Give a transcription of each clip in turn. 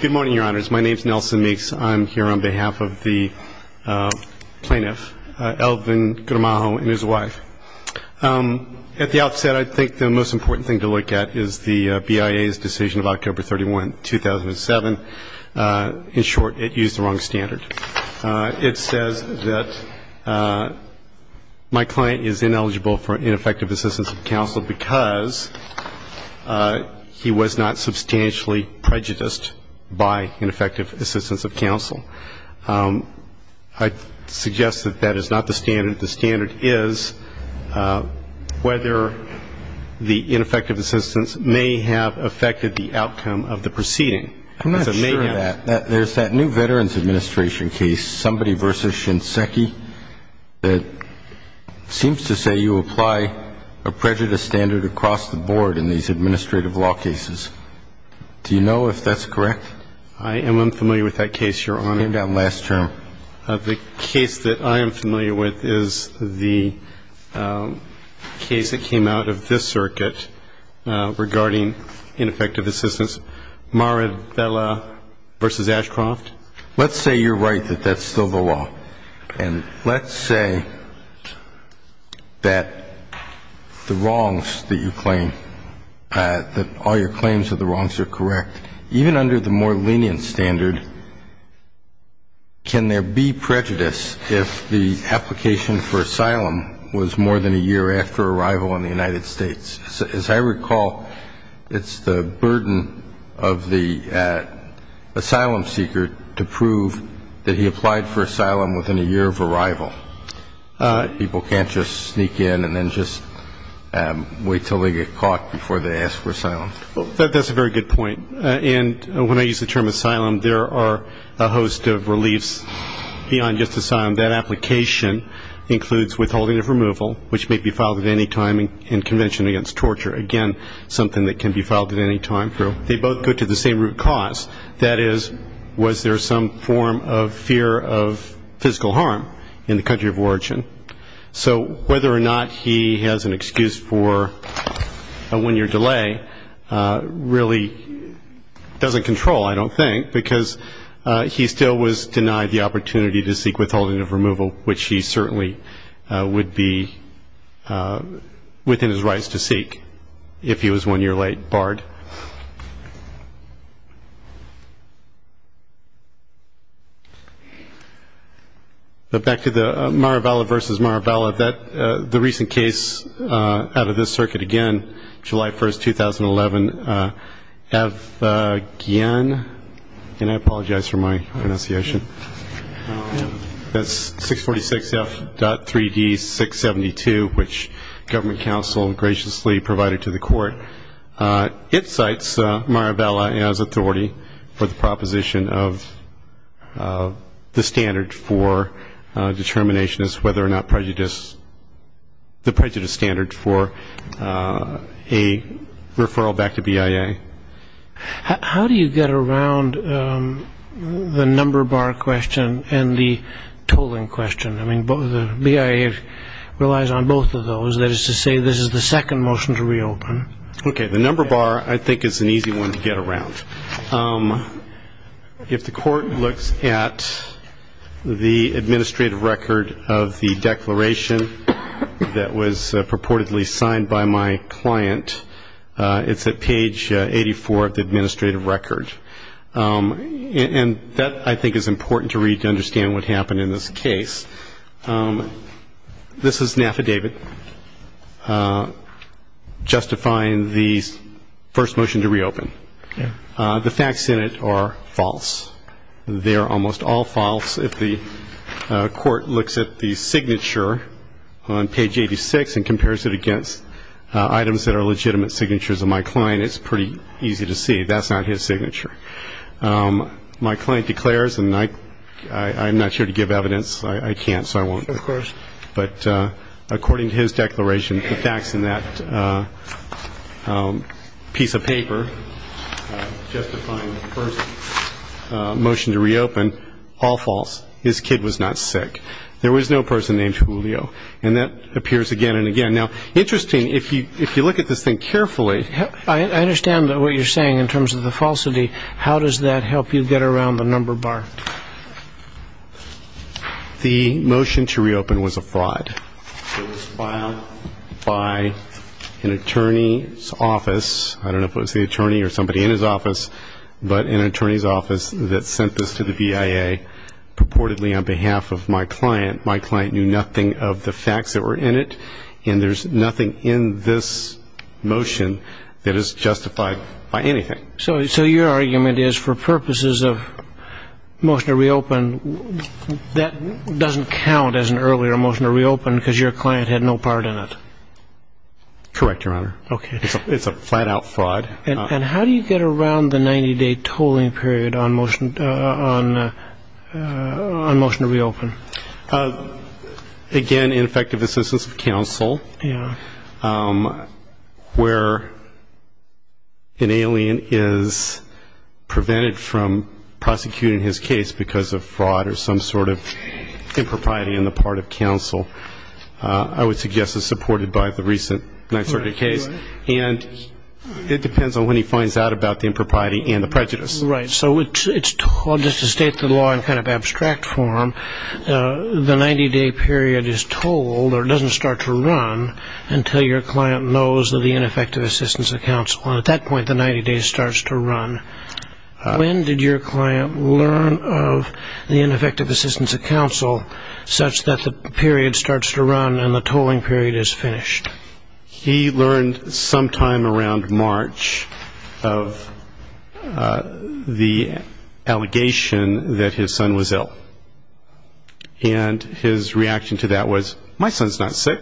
Good morning, your honors. My name is Nelson Meeks. I'm here on behalf of the plaintiff, Elvin Guramajo, and his wife. At the outset, I think the most important thing to look at is the BIA's decision of October 31, 2007. In short, it used the wrong standard. It says that my client is ineligible for ineffective assistance of counsel because he was not substantially prejudiced by ineffective assistance of counsel. I suggest that that is not the standard. The standard is whether the ineffective assistance may have affected the outcome of the proceeding. I'm not sure of that. There's that new Veterans Administration case, Somebody v. Shinseki, that seems to say you apply a prejudice standard across the board in these administrative law cases. Do you know if that's correct? I am unfamiliar with that case, your honor. It came down last term. The case that I am familiar with is the case that came out of this circuit regarding ineffective assistance, Marabella v. Ashcroft. Let's say you're right that that's still the law. And let's say that the wrongs that you claim, that all your claims of the wrongs are correct. Even under the more lenient standard, can there be prejudice if the application for asylum was more than a year after arrival in the United States? As I recall, it's the burden of the asylum seeker to prove that he applied for asylum within a year of arrival. People can't just sneak in and then just wait until they get caught before they ask for asylum. That's a very good point. And when I use the term asylum, there are a host of reliefs beyond just asylum. That application includes withholding of removal, which may be filed at any time in Convention Against Torture. Again, something that can be filed at any time. They both go to the same root cause. That is, was there some form of fear of physical harm in the country of origin? So whether or not he has an excuse for a one-year delay really doesn't control, I don't think, because he still was denied the opportunity to seek withholding of removal, which he certainly would be within his rights to seek if he was one year late, barred. Back to the Mara Vala versus Mara Vala. The recent case out of this circuit again, July 1st, 2011, Evgen, and I apologize for my pronunciation. That's 646F.3D672, which government counsel graciously provided to the court. It cites Mara Vala as authority for the proposition of the standard for determination as to whether or not prejudice, the prejudice standard for a referral back to BIA. How do you get around the number bar question and the tolling question? I mean, BIA relies on both of those. That is to say, this is the second motion to reopen. Okay, the number bar I think is an easy one to get around. If the court looks at the administrative record of the declaration that was purportedly signed by my client, it's at page 84 of the administrative record. And that I think is important to read to understand what happened in this case. This is an affidavit justifying the first motion to reopen. The facts in it are false. They are almost all false. If the court looks at the signature on page 86 and compares it against items that are legitimate signatures of my client, it's pretty easy to see that's not his signature. My client declares, and I'm not here to give evidence. I can't, so I won't. Of course. But according to his declaration, the facts in that piece of paper justifying the first motion to reopen, all false. His kid was not sick. There was no person named Julio. And that appears again and again. Now, interesting, if you look at this thing carefully. I understand what you're saying in terms of the falsity. How does that help you get around the number bar? The motion to reopen was a fraud. It was filed by an attorney's office. I don't know if it was the attorney or somebody in his office, but an attorney's office that sent this to the BIA purportedly on behalf of my client. My client knew nothing of the facts that were in it. And there's nothing in this motion that is justified by anything. So your argument is for purposes of motion to reopen, that doesn't count as an earlier motion to reopen because your client had no part in it? Correct, Your Honor. Okay. It's a flat-out fraud. And how do you get around the 90-day tolling period on motion to reopen? Again, ineffective assistance of counsel, where an alien is prevented from prosecuting his case because of fraud or some sort of impropriety on the part of counsel, I would suggest is supported by the recent Ninth Circuit case. And it depends on when he finds out about the impropriety and the prejudice. Right. So just to state the law in kind of abstract form, the 90-day period is tolled or doesn't start to run until your client knows of the ineffective assistance of counsel. And at that point, the 90 days starts to run. When did your client learn of the ineffective assistance of counsel such that the period starts to run and the tolling period is finished? He learned sometime around March of the allegation that his son was ill. And his reaction to that was, my son's not sick,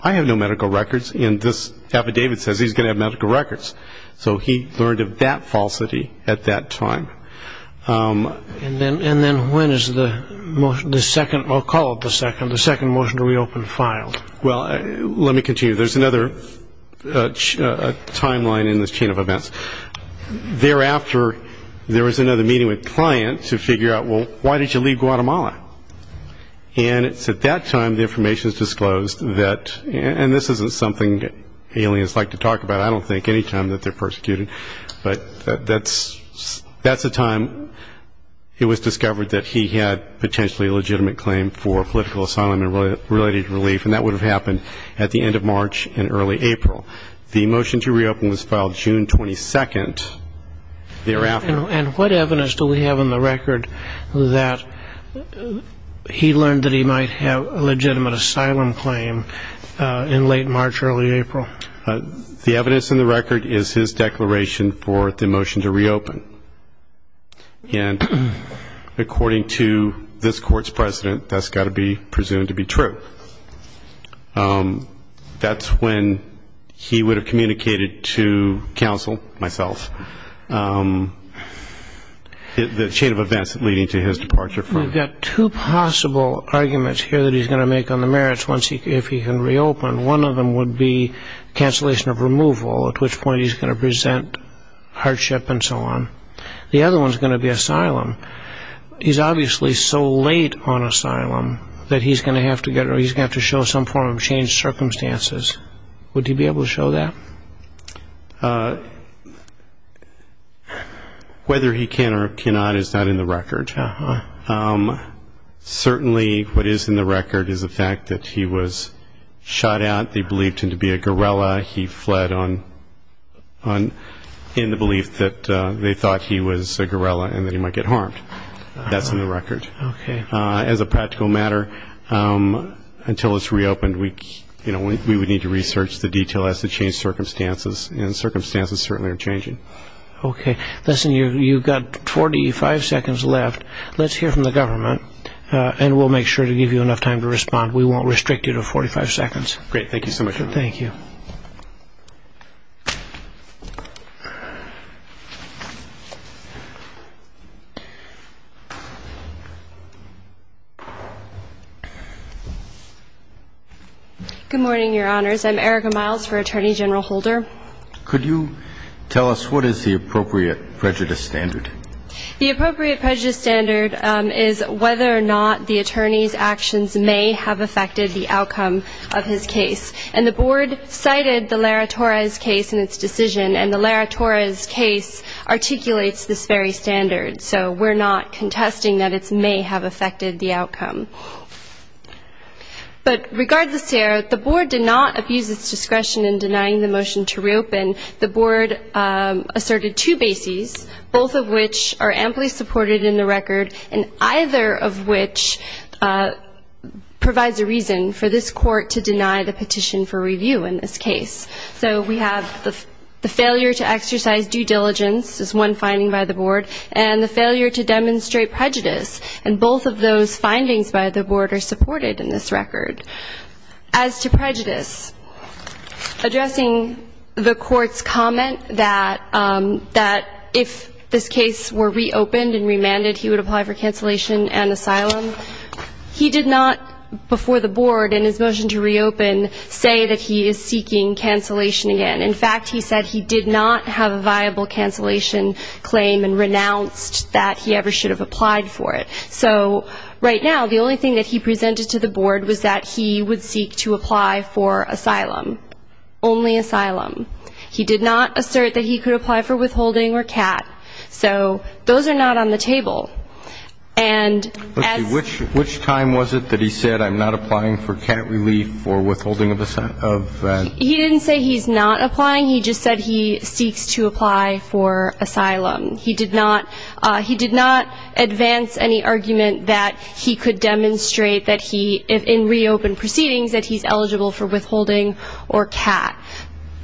I have no medical records, and this affidavit says he's going to have medical records. So he learned of that falsity at that time. And then when is the second or call it the second, the second motion to reopen filed? Well, let me continue. There's another timeline in this chain of events. Thereafter, there was another meeting with clients who figured out, well, why did you leave Guatemala? And it's at that time the information is disclosed that, and this isn't something aliens like to talk about, I don't think, any time that they're persecuted. But that's the time it was discovered that he had potentially a legitimate claim for political asylum and related relief, and that would have happened at the end of March and early April. The motion to reopen was filed June 22nd. And what evidence do we have in the record that he learned that he might have a legitimate asylum claim in late March, early April? The evidence in the record is his declaration for the motion to reopen. And according to this Court's precedent, that's got to be presumed to be true. That's when he would have communicated to counsel, myself, the chain of events leading to his departure from. We've got two possible arguments here that he's going to make on the merits if he can reopen. One of them would be cancellation of removal, at which point he's going to present hardship and so on. The other one is going to be asylum. He's obviously so late on asylum that he's going to have to show some form of changed circumstances. Would he be able to show that? Whether he can or cannot is not in the record. Certainly what is in the record is the fact that he was shot at. They believed him to be a guerrilla. He fled in the belief that they thought he was a guerrilla and that he might get harmed. That's in the record. As a practical matter, until it's reopened, we would need to research the detail as to changed circumstances. And circumstances certainly are changing. Okay. Listen, you've got 45 seconds left. Let's hear from the government, and we'll make sure to give you enough time to respond. We won't restrict you to 45 seconds. Great. Thank you so much. Thank you. Good morning, Your Honors. I'm Erica Miles for Attorney General Holder. Could you tell us what is the appropriate prejudice standard? The appropriate prejudice standard is whether or not the attorney's actions may have affected the outcome of his case. And the Board cited the Lara Torres case in its decision, and the Lara Torres case articulates this very standard. So we're not contesting that it may have affected the outcome. But regardless here, the Board did not abuse its discretion in denying the motion to reopen. The Board asserted two bases, both of which are amply supported in the record, and either of which provides a reason for this Court to deny the petition for review in this case. So we have the failure to exercise due diligence is one finding by the Board, and the failure to demonstrate prejudice. And both of those findings by the Board are supported in this record. As to prejudice, addressing the Court's comment that if this case were reopened and remanded, he would apply for cancellation and asylum, he did not, before the Board in his motion to reopen, say that he is seeking cancellation again. In fact, he said he did not have a viable cancellation claim and renounced that he ever should have applied for it. So right now, the only thing that he presented to the Board was that he would seek to apply for asylum, only asylum. He did not assert that he could apply for withholding or CAT. So those are not on the table. And as to which time was it that he said, I'm not applying for CAT relief or withholding of that? He didn't say he's not applying. He just said he seeks to apply for asylum. He did not advance any argument that he could demonstrate that he, in reopened proceedings, that he's eligible for withholding or CAT.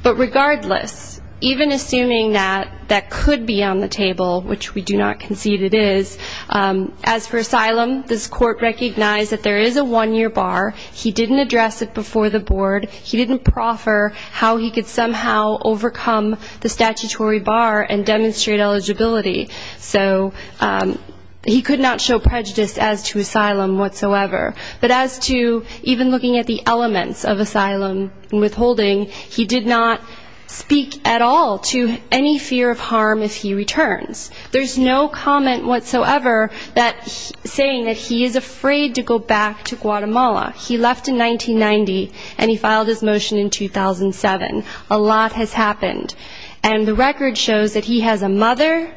But regardless, even assuming that that could be on the table, which we do not concede it is, as for asylum, this Court recognized that there is a one-year bar. He didn't address it before the Board. He didn't proffer how he could somehow overcome the statutory bar and demonstrate eligibility. So he could not show prejudice as to asylum whatsoever. But as to even looking at the elements of asylum and withholding, he did not speak at all to any fear of harm if he returns. There's no comment whatsoever saying that he is afraid to go back to Guatemala. He left in 1990, and he filed his motion in 2007. A lot has happened. And the record shows that he has a mother,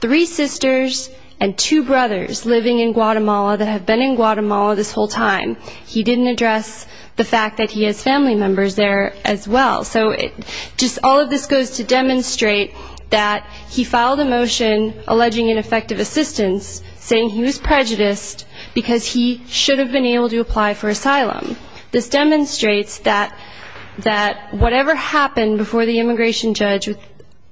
three sisters, and two brothers living in Guatemala that have been in Guatemala this whole time. He didn't address the fact that he has family members there as well. So just all of this goes to demonstrate that he filed a motion alleging ineffective assistance, saying he was prejudiced because he should have been able to apply for asylum. This demonstrates that whatever happened before the immigration judge,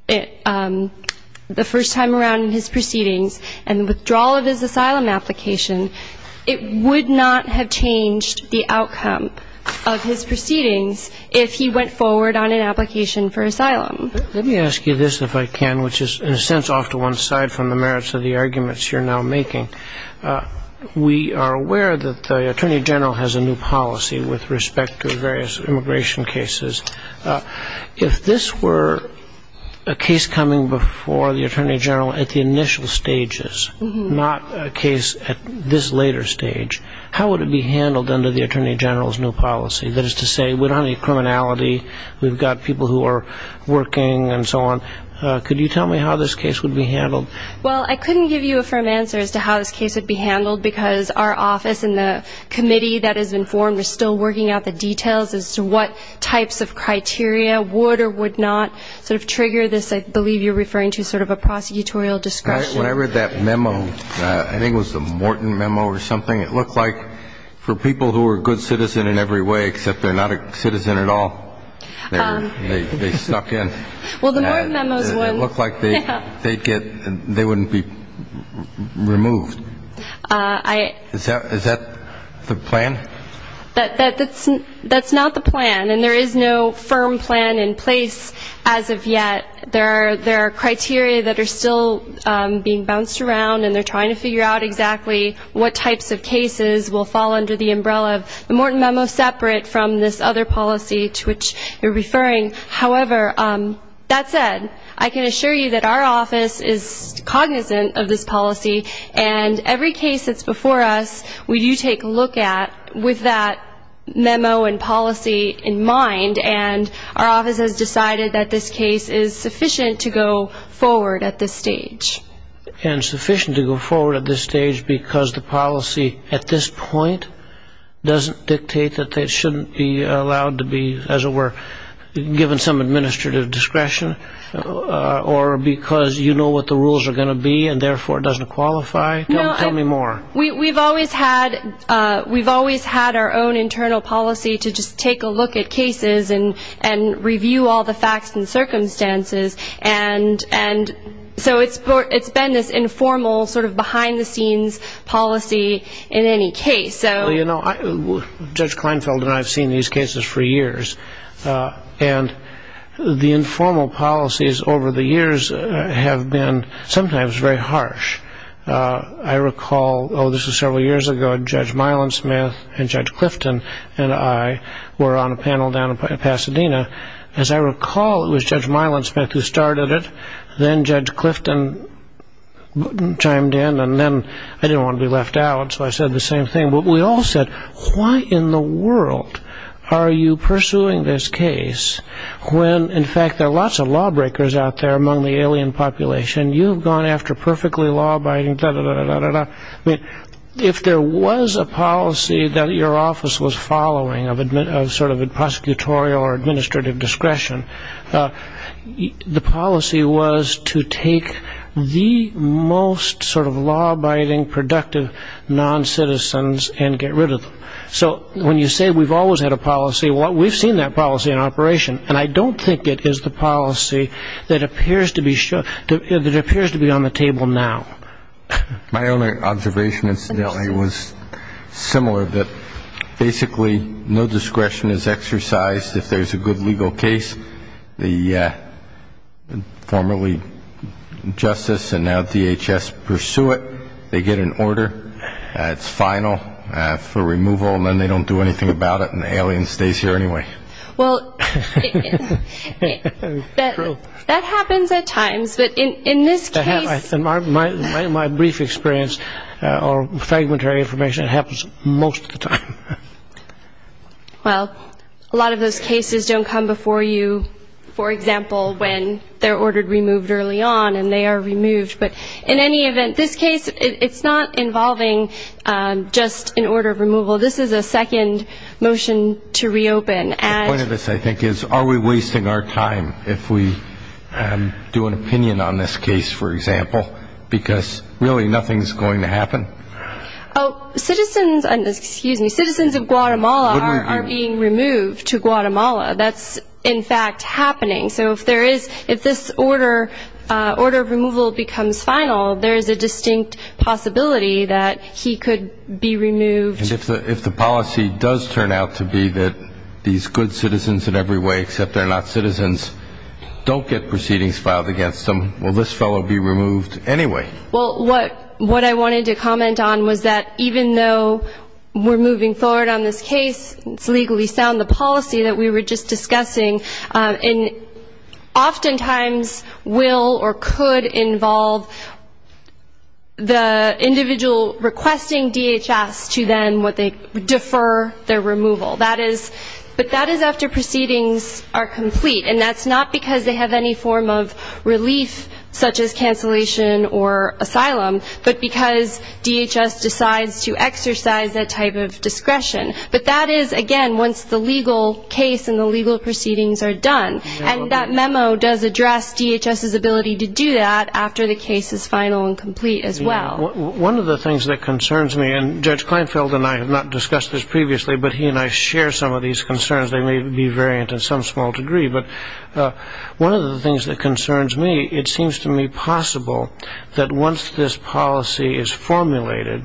the first time around in his proceedings, and the withdrawal of his asylum application, it would not have changed the outcome of his proceedings if he went forward on an application for asylum. Let me ask you this, if I can, which is in a sense off to one side from the merits of the arguments you're now making. We are aware that the Attorney General has a new policy with respect to various immigration cases. If this were a case coming before the Attorney General at the initial stages, not a case at this later stage, how would it be handled under the Attorney General's new policy? That is to say we don't have any criminality, we've got people who are working and so on. Could you tell me how this case would be handled? Well, I couldn't give you a firm answer as to how this case would be handled, because our office and the committee that is informed are still working out the details as to what types of criteria would or would not sort of trigger this, I believe you're referring to sort of a prosecutorial discretion. When I read that memo, I think it was the Morton memo or something, it looked like for people who are a good citizen in every way, except they're not a citizen at all, they're stuck in. Well, the Morton memo is one. It looked like they wouldn't be removed. Is that the plan? That's not the plan, and there is no firm plan in place as of yet. There are criteria that are still being bounced around, and they're trying to figure out exactly what types of cases will fall under the umbrella of the Morton memo, separate from this other policy to which you're referring. However, that said, I can assure you that our office is cognizant of this policy, and every case that's before us we do take a look at with that memo and policy in mind, and our office has decided that this case is sufficient to go forward at this stage. And sufficient to go forward at this stage because the policy at this point doesn't dictate that they shouldn't be allowed to be, as it were, given some administrative discretion, or because you know what the rules are going to be and therefore it doesn't qualify? Tell me more. We've always had our own internal policy to just take a look at cases and review all the facts and circumstances, and so it's been this informal sort of behind-the-scenes policy in any case. Well, you know, Judge Kleinfeld and I have seen these cases for years, and the informal policies over the years have been sometimes very harsh. I recall, oh, this was several years ago, Judge Milan-Smith and Judge Clifton and I were on a panel down in Pasadena. As I recall, it was Judge Milan-Smith who started it. Then Judge Clifton chimed in, and then I didn't want to be left out, so I said the same thing. But we all said, why in the world are you pursuing this case when, in fact, there are lots of lawbreakers out there among the alien population? You've gone after perfectly law-abiding da-da-da-da-da-da-da. If there was a policy that your office was following of sort of prosecutorial or administrative discretion, the policy was to take the most sort of law-abiding, productive noncitizens and get rid of them. So when you say we've always had a policy, we've seen that policy in operation, and I don't think it is the policy that appears to be on the table now. My only observation, incidentally, was similar, that basically no discretion is exercised. If there's a good legal case, the formerly justice and now DHS pursue it. They get an order. It's final for removal, and then they don't do anything about it, and the alien stays here anyway. Well, that happens at times, but in this case. In my brief experience, or fragmentary information, it happens most of the time. Well, a lot of those cases don't come before you, for example, when they're ordered removed early on and they are removed. But in any event, this case, it's not involving just an order of removal. This is a second motion to reopen. The point of this, I think, is are we wasting our time if we do an opinion on this case, for example, because really nothing is going to happen? Citizens of Guatemala are being removed to Guatemala. That's, in fact, happening. So if this order of removal becomes final, there is a distinct possibility that he could be removed. And if the policy does turn out to be that these good citizens in every way except they're not citizens don't get proceedings filed against them, will this fellow be removed anyway? Well, what I wanted to comment on was that even though we're moving forward on this case, it's legally sound, the policy that we were just discussing, oftentimes will or could involve the individual requesting DHS to then defer their removal. But that is after proceedings are complete. And that's not because they have any form of relief, such as cancellation or asylum, but because DHS decides to exercise that type of discretion. But that is, again, once the legal case and the legal proceedings are done. And that memo does address DHS's ability to do that after the case is final and complete as well. One of the things that concerns me, and Judge Kleinfeld and I have not discussed this previously, but he and I share some of these concerns. They may be variant in some small degree. But one of the things that concerns me, it seems to me possible that once this policy is formulated,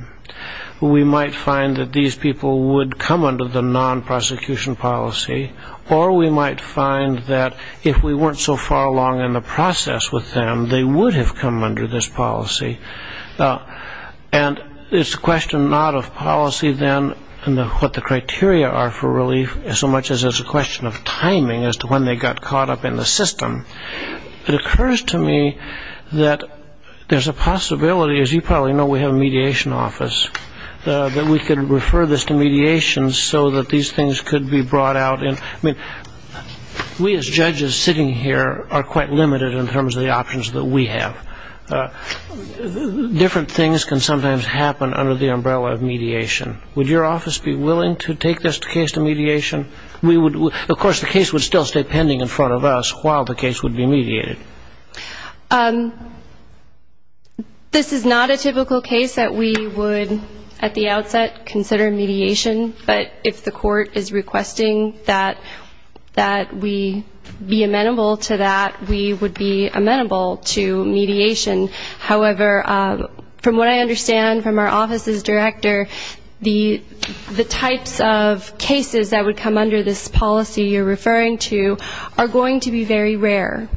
we might find that these people would come under the non-prosecution policy, or we might find that if we weren't so far along in the process with them, they would have come under this policy. And it's a question not of policy then and what the criteria are for relief, so much as it's a question of timing as to when they got caught up in the system. It occurs to me that there's a possibility, as you probably know, we have a mediation office, that we could refer this to mediation so that these things could be brought out. I mean, we as judges sitting here are quite limited in terms of the options that we have. Different things can sometimes happen under the umbrella of mediation. Would your office be willing to take this case to mediation? Of course, the case would still stay pending in front of us while the case would be mediated. This is not a typical case that we would, at the outset, consider mediation. But if the court is requesting that we be amenable to that, we would be amenable to mediation. However, from what I understand from our office's director, the types of cases that would come under this policy you're referring to are going to be very rare.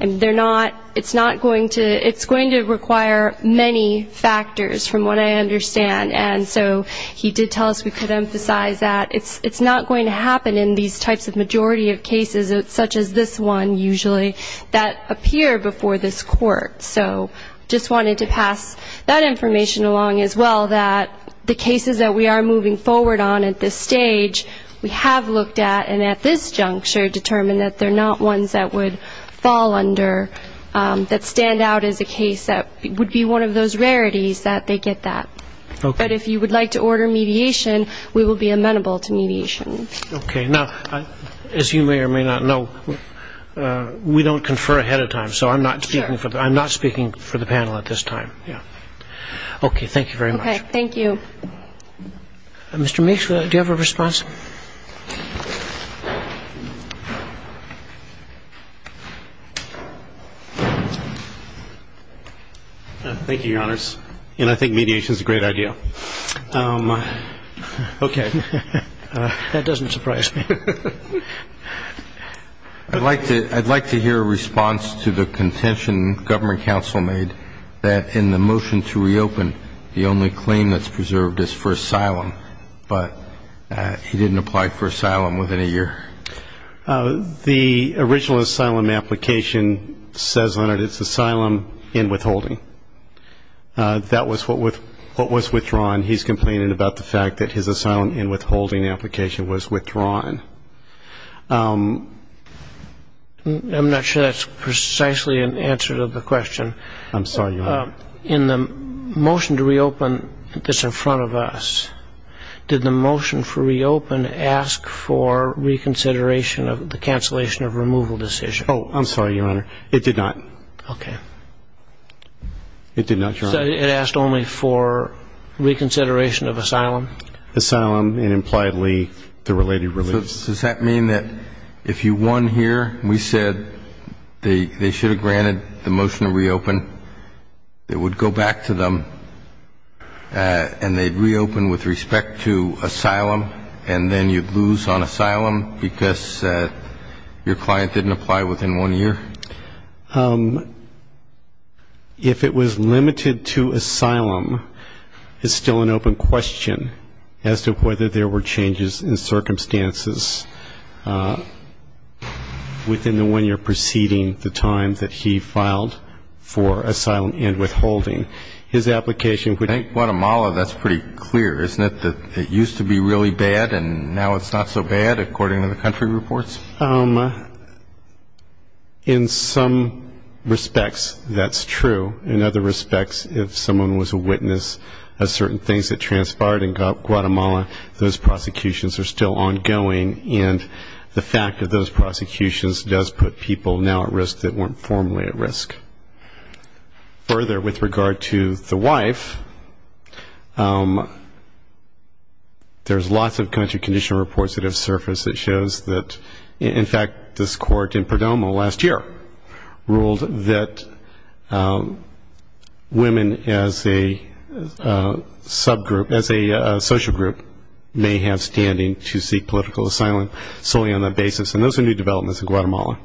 And they're not, it's not going to, it's going to require many factors, from what I understand. And so he did tell us we could emphasize that it's not going to happen in these types of majority of cases, such as this one, usually, that appear before this court. So just wanted to pass that information along as well, that the cases that we are moving forward on at this stage, we have looked at, and at this juncture determined that they're not ones that would fall under, that stand out as a case that would be one of those rarities that they get that. But if you would like to order mediation, we will be amenable to mediation. Okay. Now, as you may or may not know, we don't confer ahead of time, so I'm not speaking for the panel at this time. Okay. Thank you very much. Okay. Thank you. Mr. Meeks, do you have a response? Thank you, Your Honors. And I think mediation is a great idea. Okay. That doesn't surprise me. I'd like to hear a response to the contention Government Counsel made that in the motion to reopen, the only claim that's preserved is for asylum, but he didn't apply for asylum within a year. The original asylum application says on it it's asylum in withholding. That was what was withdrawn. He's complaining about the fact that his asylum in withholding application was withdrawn. I'm not sure that's precisely an answer to the question. I'm sorry, Your Honor. In the motion to reopen that's in front of us, did the motion for reopen ask for reconsideration of the cancellation of removal decision? Oh, I'm sorry, Your Honor. It did not. Okay. It did not, Your Honor. So it asked only for reconsideration of asylum? Asylum and impliedly the related relief. Does that mean that if you won here and we said they should have granted the motion to reopen, it would go back to them and they'd reopen with respect to asylum, and then you'd lose on asylum because your client didn't apply within one year? If it was limited to asylum, it's still an open question as to whether there were changes in circumstances within the one year preceding the time that he filed for asylum and withholding. His application would be... In Guatemala that's pretty clear, isn't it, that it used to be really bad and now it's not so bad according to the country reports? In some respects, that's true. In other respects, if someone was a witness of certain things that transpired in Guatemala, those prosecutions are still ongoing, and the fact of those prosecutions does put people now at risk that weren't formerly at risk. Further, with regard to the wife, there's lots of country condition reports that have surfaced that shows that, in fact, this court in Perdomo last year ruled that women as a subgroup, as a social group may have standing to seek political asylum solely on that basis, and those are new developments in Guatemala.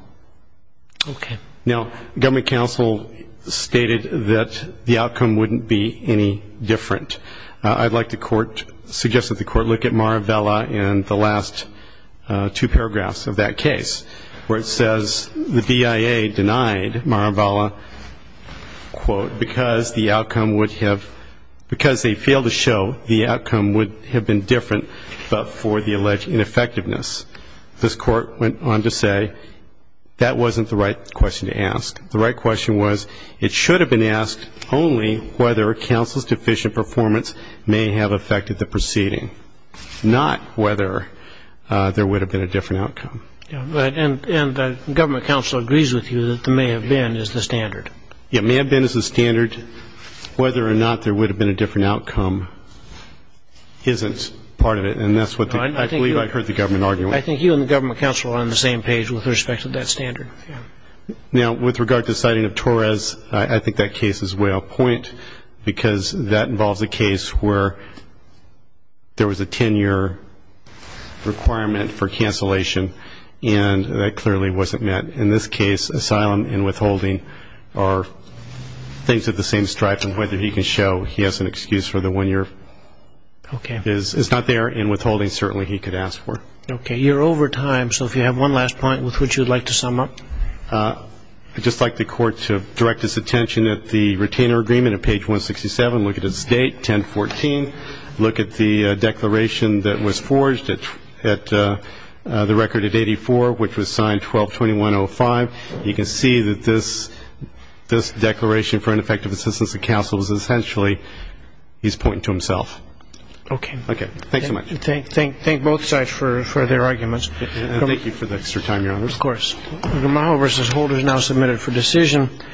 Okay. Now, government counsel stated that the outcome wouldn't be any different. I'd like the court, suggest that the court look at Maravella and the last two paragraphs of that case, where it says the BIA denied Maravella, quote, because the outcome would have, because they failed to show the outcome would have been different but for the alleged ineffectiveness. This court went on to say that wasn't the right question to ask. The right question was it should have been asked only whether counsel's deficient performance may have affected the proceeding, not whether there would have been a different outcome. And government counsel agrees with you that the may have been is the standard. Yeah, may have been is the standard. Whether or not there would have been a different outcome isn't part of it, and that's what I believe I heard the government arguing. I think you and the government counsel are on the same page with respect to that standard. Yeah. Now, with regard to the citing of Torres, I think that case is way off point because that involves a case where there was a 10-year requirement for cancellation, and that clearly wasn't met. In this case, asylum and withholding are things of the same stripe, and whether he can show he has an excuse for the one year is not there, and withholding certainly he could ask for. Okay. You're over time, so if you have one last point with which you would like to sum up. I'd just like the Court to direct its attention at the retainer agreement at page 167, look at its date, 10-14, look at the declaration that was forged at the record at 84, which was signed 12-2105. You can see that this declaration for ineffective assistance to counsel is essentially he's pointing to himself. Okay. Okay. Thanks so much. Thank both sides for their arguments. Thank you for the extra time, Your Honor. Of course. Gamal versus Holder is now submitted for decision.